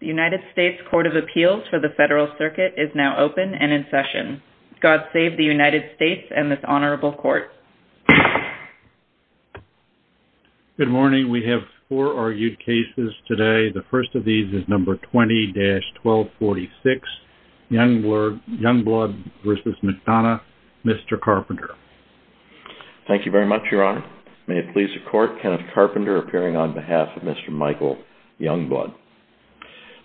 The United States Court of Appeals for the Federal Circuit is now open and in session. God save the United States and this Honorable Court. Good morning. We have four argued cases today. The first of these is number 20-1246, Youngblood v. McDonough. Mr. Carpenter. Thank you very much, Your Honor. May it please the Court, Kenneth Carpenter appearing on behalf of Mr. Michael Youngblood.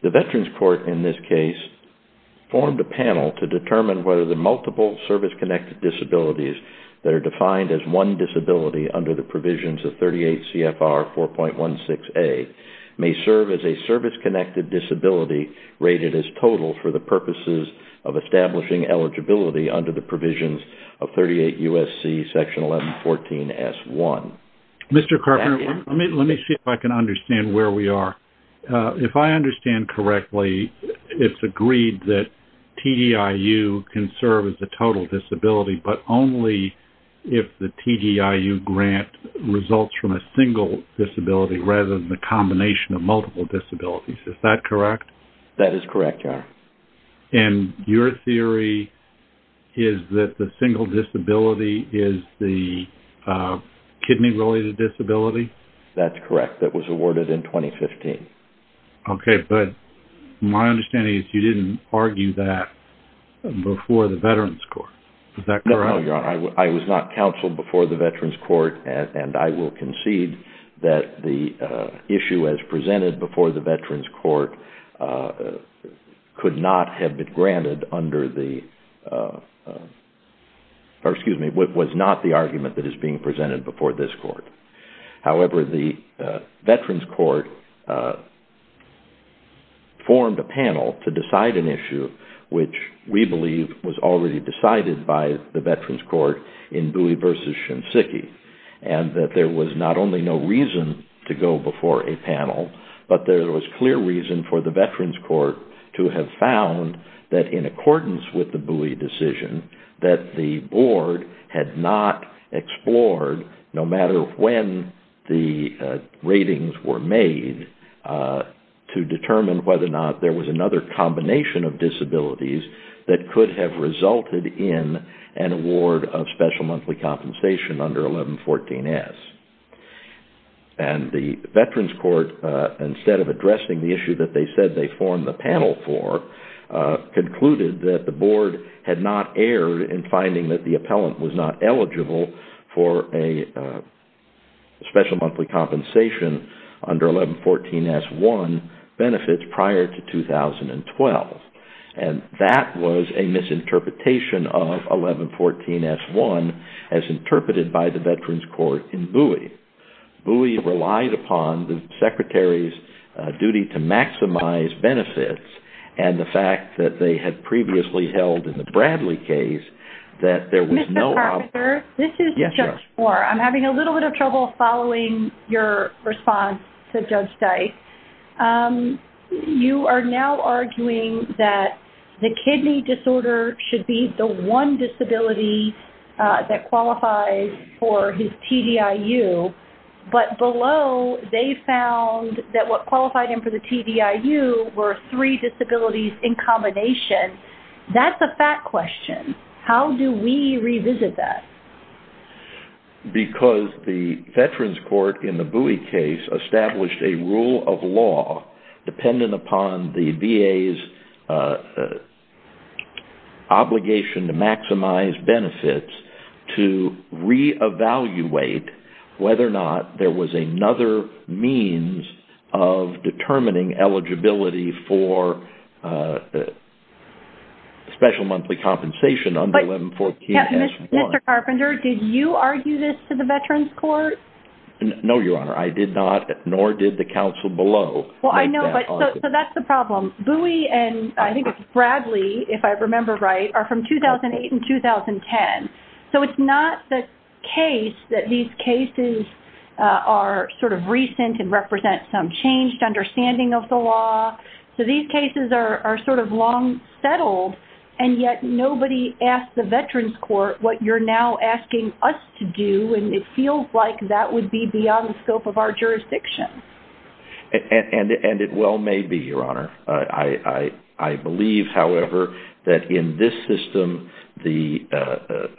The Veterans Court in this case formed a panel to determine whether the multiple service-connected disabilities that are defined as one disability under the provisions of 38 CFR 4.16a may serve as a service-connected disability rated as total for the purposes of establishing eligibility under the provisions of 38 U.S.C. Section 1114 S.1. Mr. Carpenter, let me see if I can understand where we are. If I understand correctly, it's agreed that TDIU can serve as a total disability but only if the TDIU grant results from a single disability rather than the combination of multiple disabilities. Is that correct? That is correct, Your Honor. And your theory is that the single disability is the kidney-related disability? That's correct. That was awarded in 2015. Okay. But my understanding is you didn't argue that before the Veterans Court. Is that correct? No, Your Honor. I was not counseled before the Veterans Court and I will concede that the issue as presented before the Veterans Court could not have been granted under the, or excuse me, was not the argument that is being presented before this court. However, the Veterans Court formed a panel to decide an issue which we believe was already decided by the Veterans Court in Bowie v. Shinseki and that there was not only no reason to go before a panel, but there was clear reason for the Veterans Court to have found that in accordance with the Bowie decision that the board had not explored, no matter when the ratings were made, to determine whether or not there was another combination of disabilities that could have resulted in an award of special monthly compensation under 1114-S. And the Veterans Court, instead of addressing the issue that they said they formed the panel for, concluded that the board had not erred in finding that the appellant was not eligible for a special monthly compensation under 1114-S-1 benefits prior to 2012. And that was a misinterpretation of 1114-S-1 as interpreted by the Veterans Court in Bowie. Bowie relied upon the Secretary's duty to maximize benefits and the fact that they had previously held in the Bradley case that there was no- Mr. Carpenter, this is Judge Moore. I'm having a little bit of trouble following your response to Judge Dyke. You are now arguing that the kidney disorder should be the one disability that qualifies for his TDIU, but below, they found that what qualified him for the TDIU were three disabilities in combination. That's a fact question. How do we revisit that? Because the Veterans Court, in the Bowie case, established a rule of law dependent upon the VA's obligation to maximize benefits to re-evaluate whether or not there was another means of determining eligibility for special monthly compensation under 1114-S-1. Mr. Carpenter, did you argue this to the Veterans Court? No, Your Honor. I did not, nor did the counsel below. Well, I know, but so that's the problem. Bowie and I think it's Bradley, if I remember right, are from 2008 and 2010. So it's not the case that these cases are sort of recent and represent some changed understanding of the law. So these cases are sort of long settled and yet nobody asked the Veterans Court what you're now asking us to do, and it feels like that would be beyond the scope of our jurisdiction. And it well may be, Your Honor. I believe, however, that in this system, the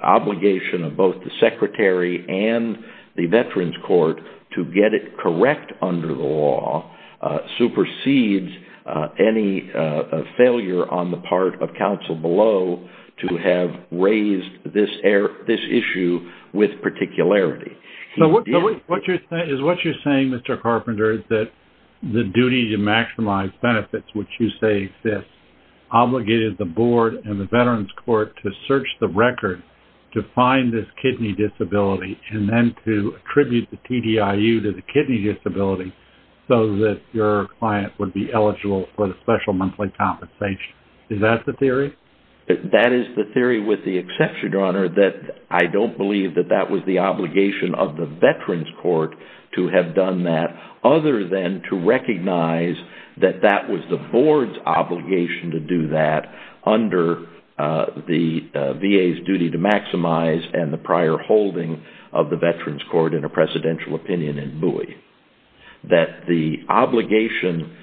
obligation of both the Secretary and the Veterans Court to get it correct under the law supersedes any failure on the part of counsel below to have raised this issue with particularity. Is what you're saying, Mr. Carpenter, is that the duty to maximize benefits, which you say exists, obligated the Board and the Veterans Court to search the record to find this kidney disability and then to attribute the TDIU to the kidney disability so that your client would be eligible for the special monthly compensation. Is that the theory? That is the theory with the exception, Your Honor, that I don't believe that that was the obligation of the Veterans Court to have done that other than to recognize that that was the Board's obligation to do that under the VA's duty to maximize and the prior holding of the that the obligation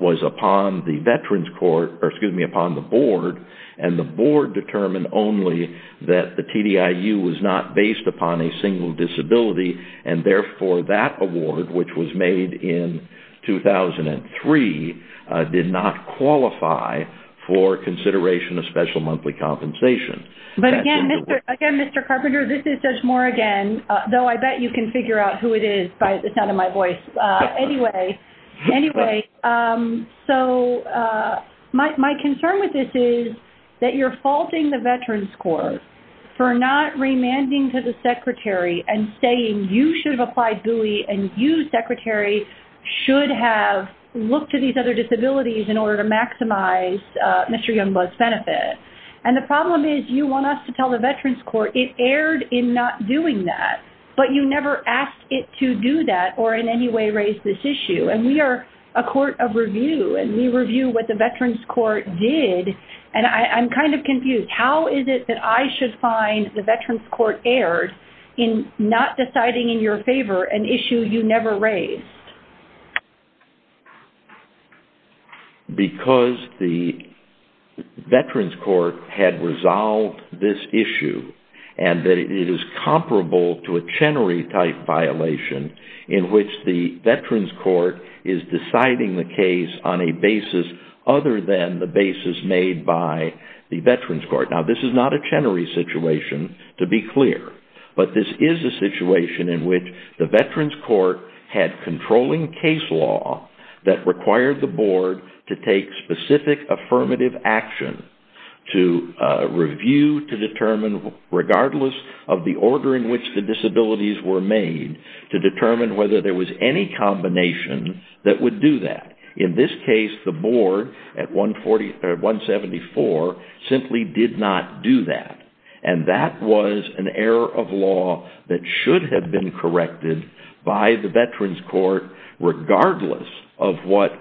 was upon the Veterans Court, or excuse me, upon the Board, and the Board determined only that the TDIU was not based upon a single disability, and therefore that award, which was made in 2003, did not qualify for consideration of special monthly compensation. But again, Mr. Carpenter, this is Judge Moore again, though I bet you can figure out who it is by the sound of my voice. Anyway, so my concern with this is that you're faulting the Veterans Court for not remanding to the Secretary and saying you should have applied GUI and you, Secretary, should have looked to these other disabilities in order to maximize Mr. Youngblood's benefit. And the problem is you want us to tell the Veterans Court it erred in not doing that, but you never asked it to do that or in any way raise this issue. And we are a court of review, and we review what the Veterans Court did, and I'm kind of confused. How is it that I should find the Veterans Court erred in not deciding in your favor an issue you never raised? Because the Veterans Court had resolved this issue and that it is comparable to a Chenery-type violation in which the Veterans Court is deciding the case on a basis other than the basis made by the Veterans Court. Now, this is not a Chenery situation, to be clear, but this is a situation in which the Veterans Court had controlling case law that required the board to take specific affirmative action to review, to determine, regardless of the order in which the disabilities were made, to determine whether there was any combination that would do that. In this case, the board at 174 simply did not do that. And that was an error of law that should have been corrected by the Veterans Court regardless of what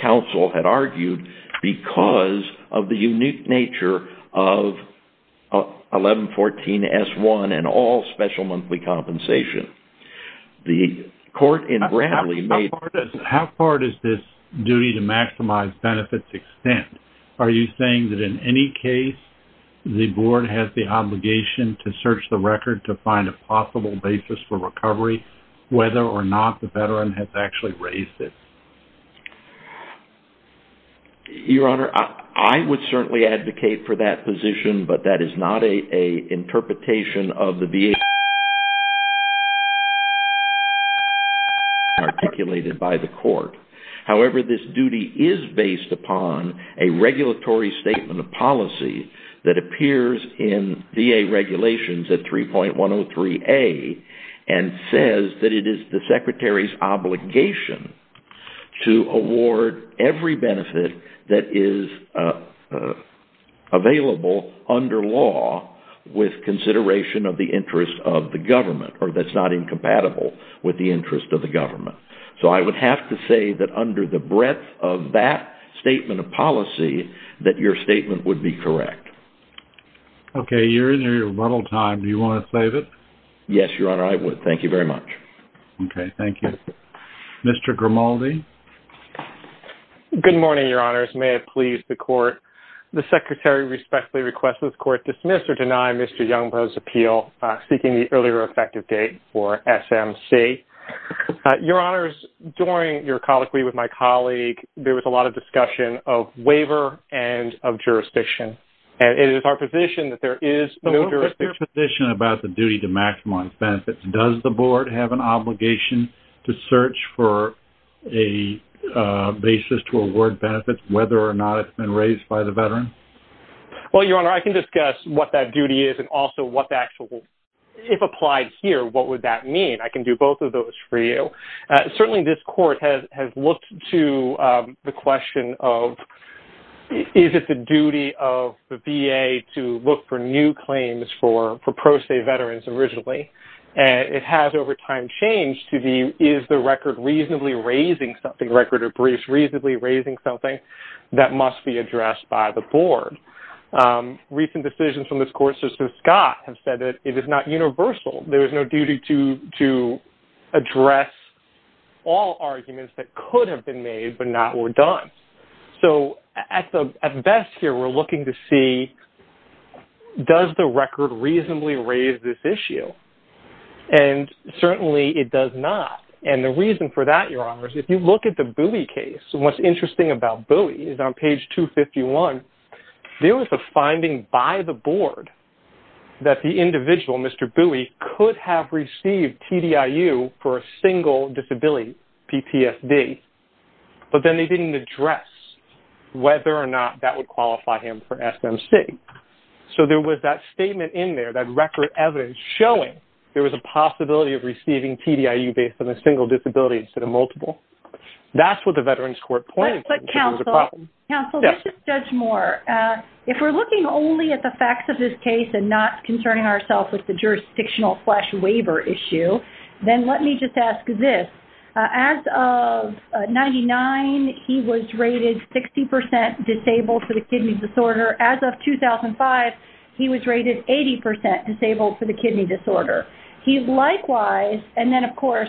counsel had argued because of the unique nature of 1114-S1 and all special monthly compensation. The court in Bradley made... How far does this duty to maximize benefits extend? Are you saying that in any case, the board has the obligation to search the record to find a possible basis for recovery whether or not the Veteran has actually raised it? Your Honor, I would certainly advocate for that position, but that is not an interpretation of the VA regulations articulated by the court. However, this duty is based upon a regulatory statement of policy that appears in VA regulations at 3.103A and says that it is the Secretary's obligation to award every benefit that is available under law with consideration of the interest of the government or that's not incompatible with the interest of the government. So I would have to say that under the breadth of that statement of policy, that your statement would be correct. Okay. You're in your rebuttal time. Do you want to save it? Yes, Your Honor, I would. Thank you very much. Okay. Thank you. Mr. Grimaldi? Good morning, Your Honors. May it please the court. The Secretary respectfully requests this court dismiss or deny Mr. Youngbro's appeal seeking the earlier effective date for SMC. Your Honors, during your colloquy with my colleague, there was a lot of discussion of waiver and of jurisdiction, and it is our position that there is no jurisdiction. What is your position about the duty to maximize benefits? Does the board have an obligation to search for a basis to award benefits whether or not it's been raised by the veteran? Well, Your Honor, I can discuss what that duty is and also if applied here, what would that mean? I can do both of those for you. Certainly, this court has looked to the question of is it the duty of the VA to look for new claims for pro se veterans originally? It has over time changed to the is the record reasonably raising something, record of briefs reasonably raising something that must be addressed by the board. Recent decisions from this court, such as Scott, have said that it is not universal. There is no duty to address all arguments that could have been made but not were done. So at best here, we're looking to see does the record reasonably raise this issue? Certainly, it does not. The reason for that, Your Honors, if you look at the Bowie case, what's interesting about Bowie is on page 251, there was a finding by the board that the individual, Mr. Bowie, could have received TDIU for a single disability, PTSD, but then they didn't address whether or not that would qualify him for SMC. So there was that statement in there, that record evidence showing there was a possibility of receiving TDIU based on a single disability instead of multiple. That's what the Veterans Court pointed to. But counsel, let's just judge more. If we're looking only at the facts of this case and not concerning ourselves with the jurisdictional flash waiver issue, then let me just ask this. As of 1999, he was rated 60% disabled for the kidney disorder. As of 2005, he was rated 80% disabled for the kidney disorder. He likewise, and then of course,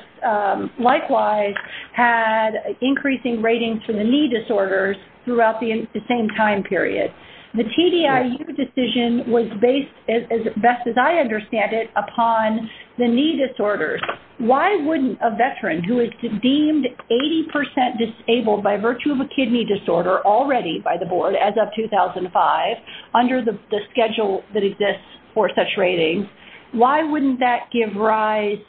likewise had increasing ratings for the knee disorders throughout the same time period. The TDIU decision was based, as best as I understand it, upon the knee disorders. Why wouldn't a veteran who is deemed 80% disabled by virtue of a kidney disorder, already by the board as of 2005, under the schedule that exists for such ratings, why wouldn't that give rise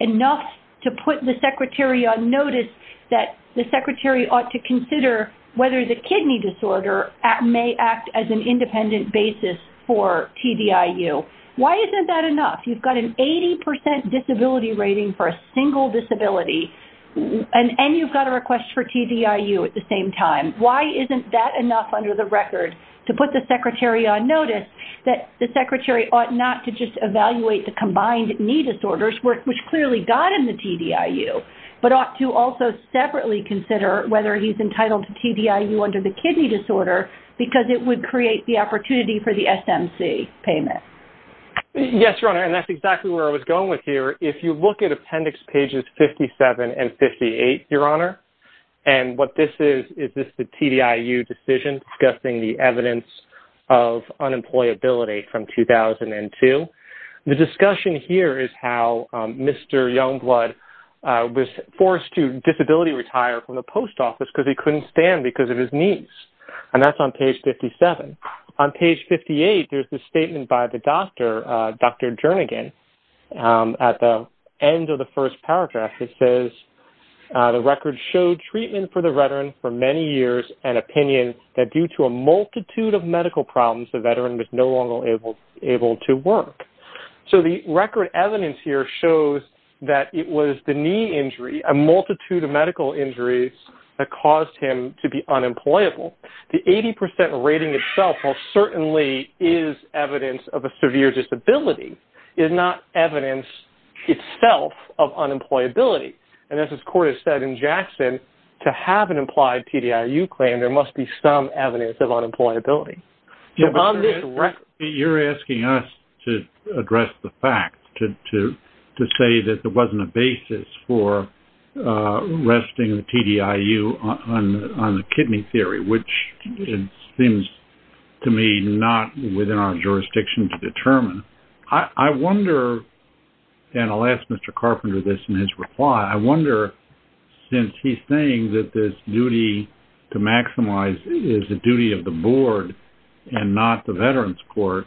enough to put the secretary on notice that the secretary ought to consider whether the kidney disorder may act as an independent basis for TDIU? Why isn't that rating for a single disability? And you've got a request for TDIU at the same time. Why isn't that enough under the record to put the secretary on notice that the secretary ought not to just evaluate the combined knee disorders, which clearly got in the TDIU, but ought to also separately consider whether he's entitled to TDIU under the kidney disorder because it would create the opportunity for the SMC payment? Yes, your honor. And that's exactly where I was going with here. If you look at appendix pages 57 and 58, your honor, and what this is, is this the TDIU decision discussing the evidence of unemployability from 2002. The discussion here is how Mr. Youngblood was forced to disability retire from the post office because he couldn't stand because of his knees. And that's on page 57. On page 58, there's the statement by the doctor, Dr. Jernigan, at the end of the first paragraph, it says, the record showed treatment for the veteran for many years and opinion that due to a multitude of medical problems, the veteran was no longer able to work. So the record evidence here shows that it was the knee injury, a multitude of medical injuries that caused him to be certainly is evidence of a severe disability, is not evidence itself of unemployability. And as this court has said in Jackson, to have an implied TDIU claim, there must be some evidence of unemployability. You're asking us to address the fact, to say that there wasn't a basis for arresting the TDIU on the kidney theory, which seems to me not within our jurisdiction to determine. I wonder, and I'll ask Mr. Carpenter this in his reply, I wonder, since he's saying that this duty to maximize is the duty of the board and not the veterans court,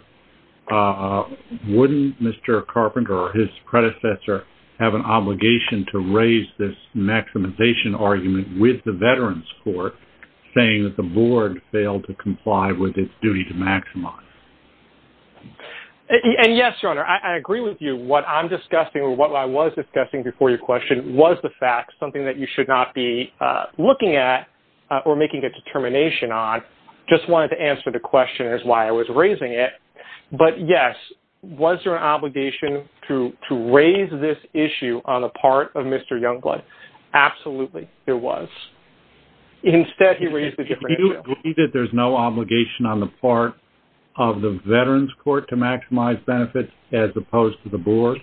wouldn't Mr. argument with the veterans court saying that the board failed to comply with its duty to maximize? And yes, your honor, I agree with you. What I'm discussing or what I was discussing before your question was the fact, something that you should not be looking at or making a determination on, just wanted to answer the question as why I was raising it. But yes, was there an obligation to raise this issue on the part of Mr. Youngblood? Absolutely, there was. Instead, he raised it. Do you agree that there's no obligation on the part of the veterans court to maximize benefits as opposed to the board?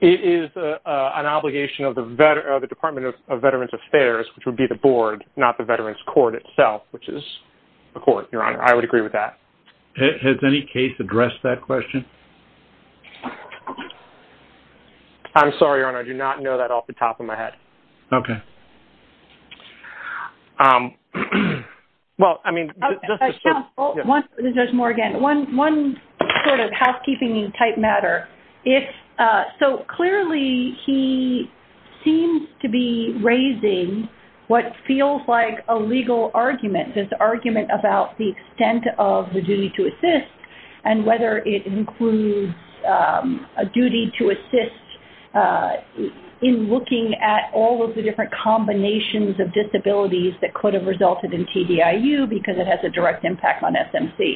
It is an obligation of the department of veterans affairs, which would be the board, not the veterans court itself, which is the court, your honor. I would agree with that. Has any case addressed that question? I'm sorry, your honor. I do not know that off the top of my head. Okay. Well, I mean- One, Judge Morgan, one sort of housekeeping type matter. So clearly he seems to be raising what feels like a legal argument, this argument about the extent of the duty to assist and whether it includes a duty to assist in looking at all of the different combinations of disabilities that could have resulted in TDIU because it has a direct impact on SMC.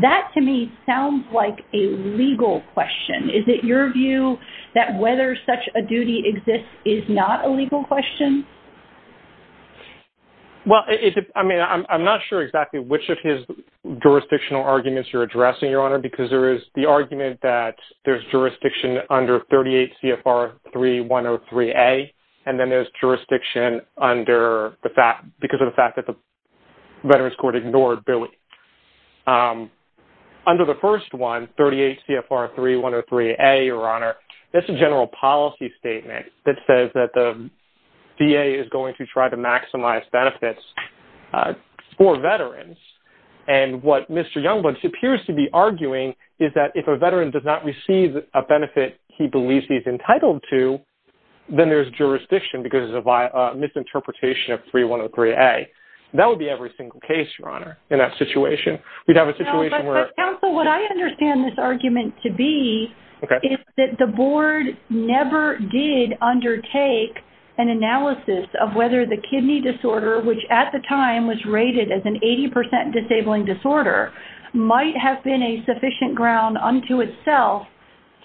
That to me sounds like a legal question. Is it your view that whether such a duty exists is not a legal question? Well, I mean, I'm not sure exactly which of his jurisdictional arguments you're addressing, your honor, because there is the argument that there's jurisdiction under 38 CFR 3103A, and then there's jurisdiction because of the fact that the veterans court ignored Billy. Under the first one, 38 CFR 3103A, your honor, that's a general policy statement that says that VA is going to try to maximize benefits for veterans. And what Mr. Youngblood appears to be arguing is that if a veteran does not receive a benefit he believes he's entitled to, then there's jurisdiction because of a misinterpretation of 3103A. That would be every single case, your honor, in that situation. We'd have a situation where- an analysis of whether the kidney disorder, which at the time was rated as an 80% disabling disorder, might have been a sufficient ground unto itself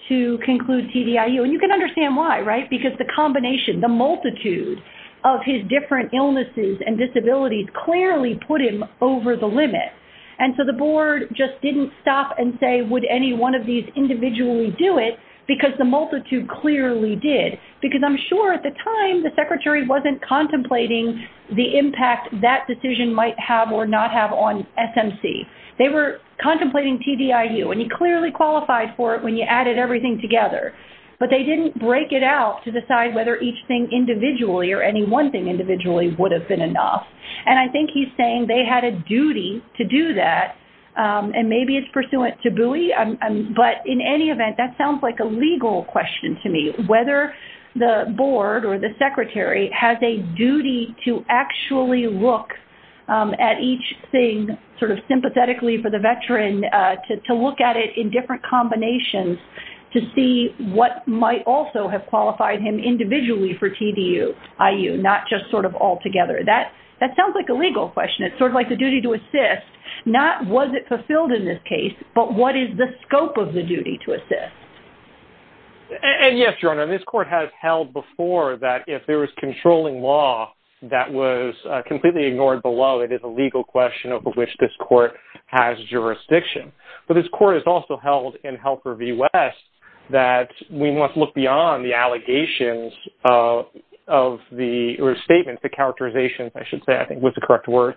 to conclude TDIU. And you can understand why, right? Because the combination, the multitude of his different illnesses and disabilities clearly put him over the limit. And so the board just didn't stop and say, would any one of these individually do it? Because the multitude clearly did. Because I'm sure at the time, the secretary wasn't contemplating the impact that decision might have or not have on SMC. They were contemplating TDIU. And you clearly qualified for it when you added everything together. But they didn't break it out to decide whether each thing individually or any one thing individually would have been enough. And I think he's saying they had a duty to do that, and maybe it's pursuant to Bowie. But in any event, that sounds like a legal question to me, whether the board or the secretary has a duty to actually look at each thing sort of sympathetically for the veteran, to look at it in different combinations to see what might also have qualified him individually for TDIU, not just sort of all together. That sounds like a legal question. Sort of like the duty to assist, not was it fulfilled in this case, but what is the scope of the duty to assist? And yes, Your Honor, this court has held before that if there was controlling law that was completely ignored below, it is a legal question over which this court has jurisdiction. But this court has also held in Helper v. West that we must look beyond the statement, the characterization, I should say, I think was the correct word,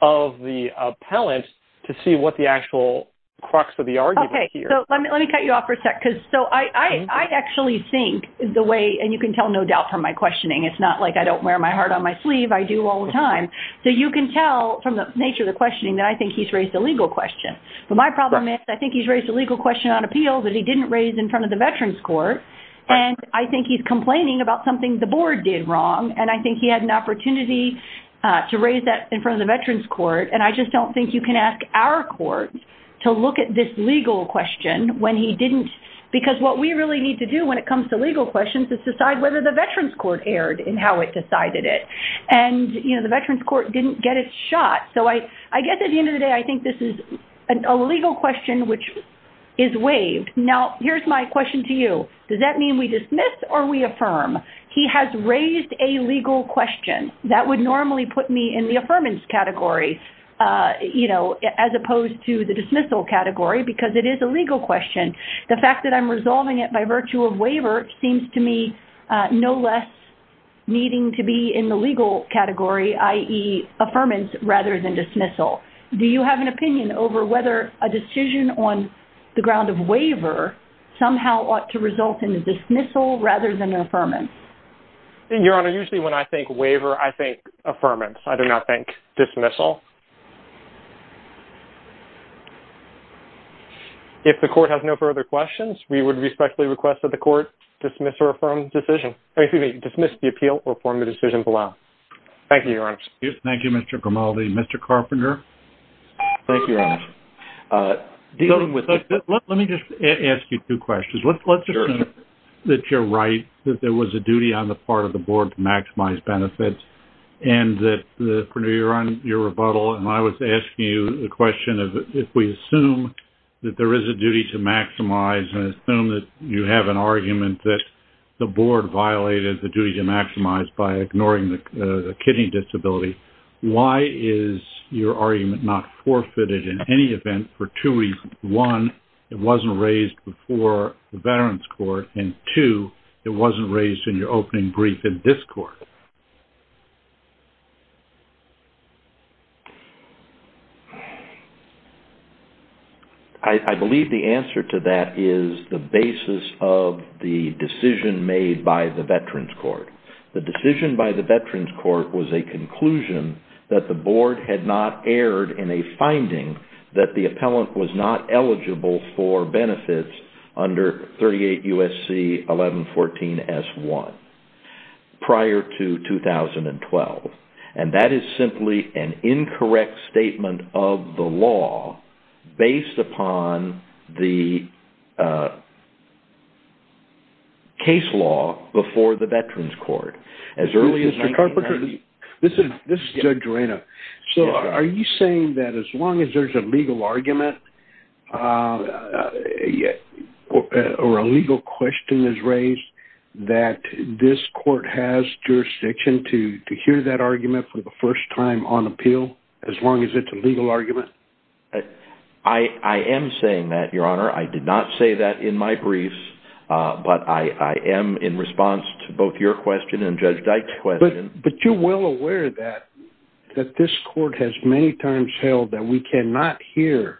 of the appellant to see what the actual crux of the argument here. Okay. So let me cut you off for a sec. Because so I actually think the way, and you can tell no doubt from my questioning, it's not like I don't wear my heart on my sleeve. I do all the time. So you can tell from the nature of the questioning that I think he's raised a legal question. But my problem is I think he's raised a legal question on appeal that he didn't raise in front of the Veterans Court. And I think he's had an opportunity to raise that in front of the Veterans Court. And I just don't think you can ask our court to look at this legal question when he didn't. Because what we really need to do when it comes to legal questions is decide whether the Veterans Court erred in how it decided it. And, you know, the Veterans Court didn't get its shot. So I guess at the end of the day, I think this is a legal question which is waived. Now, here's my question to you. Does that mean we dismiss or we affirm? He has raised a legal question. That would normally put me in the affirmance category, you know, as opposed to the dismissal category because it is a legal question. The fact that I'm resolving it by virtue of waiver seems to me no less needing to be in the legal category, i.e. affirmance rather than dismissal. Do you have an opinion over whether a decision on the ground of waiver somehow ought to result in a dismissal rather than an affirmance? Your Honor, usually when I think waiver, I think affirmance. I do not think dismissal. If the court has no further questions, we would respectfully request that the court dismiss or affirm decision. Excuse me, dismiss the appeal or form the decision below. Thank you, Your Honor. Thank you, Mr. Grimaldi. Mr. Carpenter? Thank you, Your Honor. Let me just ask you two questions. Let's assume that you're right, that there was a duty on the part of the board to maximize benefits, and that, Prenu, you're on your rebuttal, and I was asking you the question of if we assume that there is a duty to maximize and assume that you have an argument that the board violated the kidney disability, why is your argument not forfeited in any event for two reasons? One, it wasn't raised before the Veterans Court, and two, it wasn't raised in your opening brief in this court. I believe the answer to that is the basis of the decision made by the Veterans Court. The decision by the Veterans Court was a conclusion that the board had not erred in a finding that the appellant was not eligible for benefits under 38 U.S.C. 1114 S.1 prior to 2012, and that is simply an incorrect statement of the law based upon the case law before the Veterans Court as early as 1990. Mr. Carpenter, this is Doug Dorena. So, are you saying that as long as there's a legal argument or a legal question is raised that this court has jurisdiction to hear that argument for the first time on appeal as long as it's a legal argument? I am saying that, Your Honor. I did not say that in my briefs, but I am in response to both your question and Judge Dyke's question. But you're well aware that this court has many times held that we cannot hear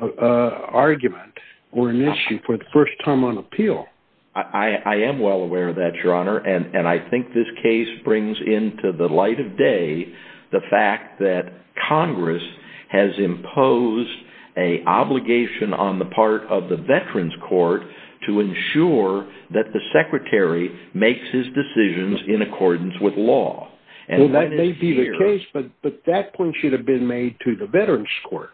an argument or an issue for the first time on appeal. I am well aware of that, Your Honor, and I think this case brings into the light of day the fact that Congress has imposed an obligation on the part of the Veterans Court to ensure that the Secretary makes his decisions in accordance with law. Well, that may be the case, but that point should have been made to the Veterans Court.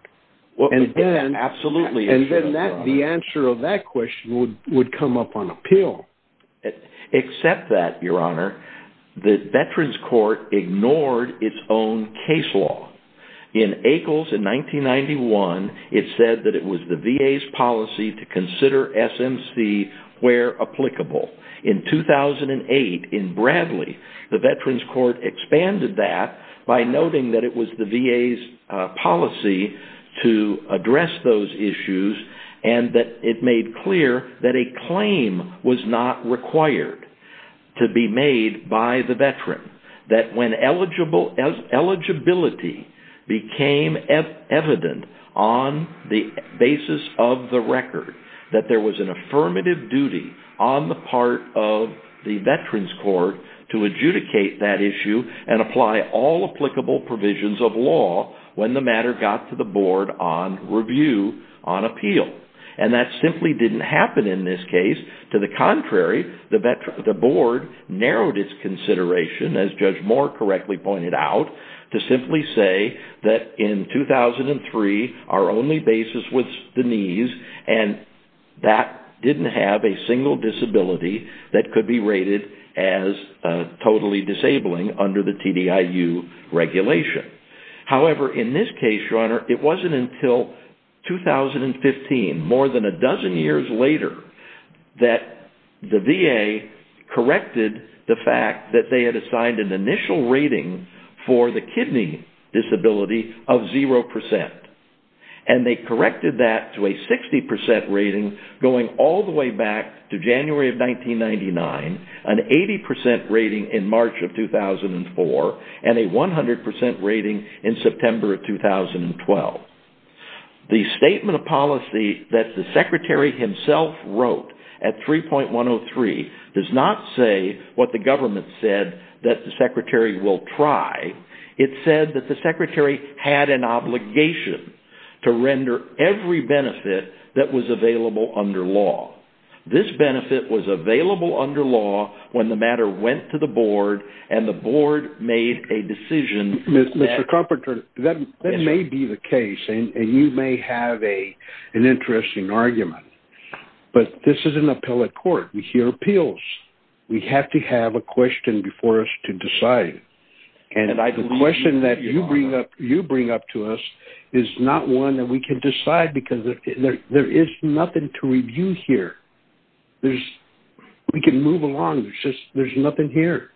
Absolutely. And then the answer of that question would come up on appeal. Except that, Your Honor, the Veterans Court ignored its own case law. In Akles in 1991, it said that it was the VA's policy to consider SMC where applicable. In 2008, in Bradley, the Veterans Court expanded that by noting that it was the VA's policy to address those issues and that it made clear that a claim was not required to be made by the Veteran. That when eligibility became evident on the basis of the record, that there was an affirmative duty on the part of the Veterans Court to adjudicate that issue and apply all applicable provisions of law when the matter got to the board on review on appeal. And that simply didn't happen in this case. To the contrary, the board narrowed its consideration, as Judge Moore correctly pointed out, to simply say that in 2003, our only basis was Denise and that didn't have a single disability that could be rated as totally disabling under the TDIU regulation. However, in this case, Your Honor, it wasn't until 2015, more than a dozen years later, that the VA corrected the fact that they had assigned an initial rating for the kidney disability of 0%. And they corrected that to a 60% rating going all the way back to January of 1999, an 80% rating in March of 2004, and a 100% rating in September of 2012. The statement of policy that the Secretary himself wrote at 3.103 does not say what the government said that the Secretary will try. It said that the Secretary had an obligation to render every benefit that was available under law. This benefit was available under law when the matter went to the board and the board made a decision that... Mr. Carpenter, that may be the case and you may have an interesting argument. But this is an appellate court. We hear appeals. We have to question before us to decide. And the question that you bring up to us is not one that we can decide because there is nothing to review here. We can move along. There's nothing here.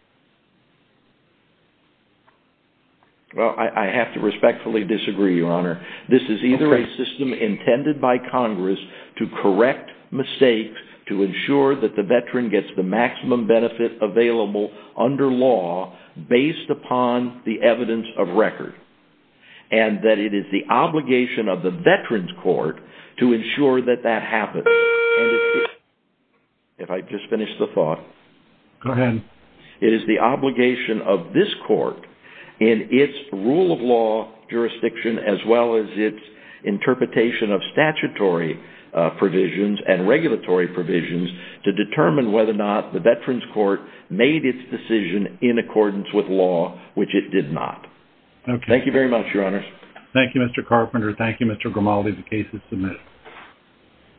Well, I have to respectfully disagree, Your Honor. This is either a system intended by Congress to correct mistakes, to ensure that the veteran gets the maximum benefit available under law based upon the evidence of record, and that it is the obligation of the Veterans Court to ensure that that happens. If I just finish the thought. Go ahead. It is the obligation of this court in its rule of law jurisdiction as well as its statutory provisions and regulatory provisions to determine whether or not the Veterans Court made its decision in accordance with law, which it did not. Thank you very much, Your Honor. Thank you, Mr. Carpenter. Thank you, Mr. Grimaldi. The case is submitted.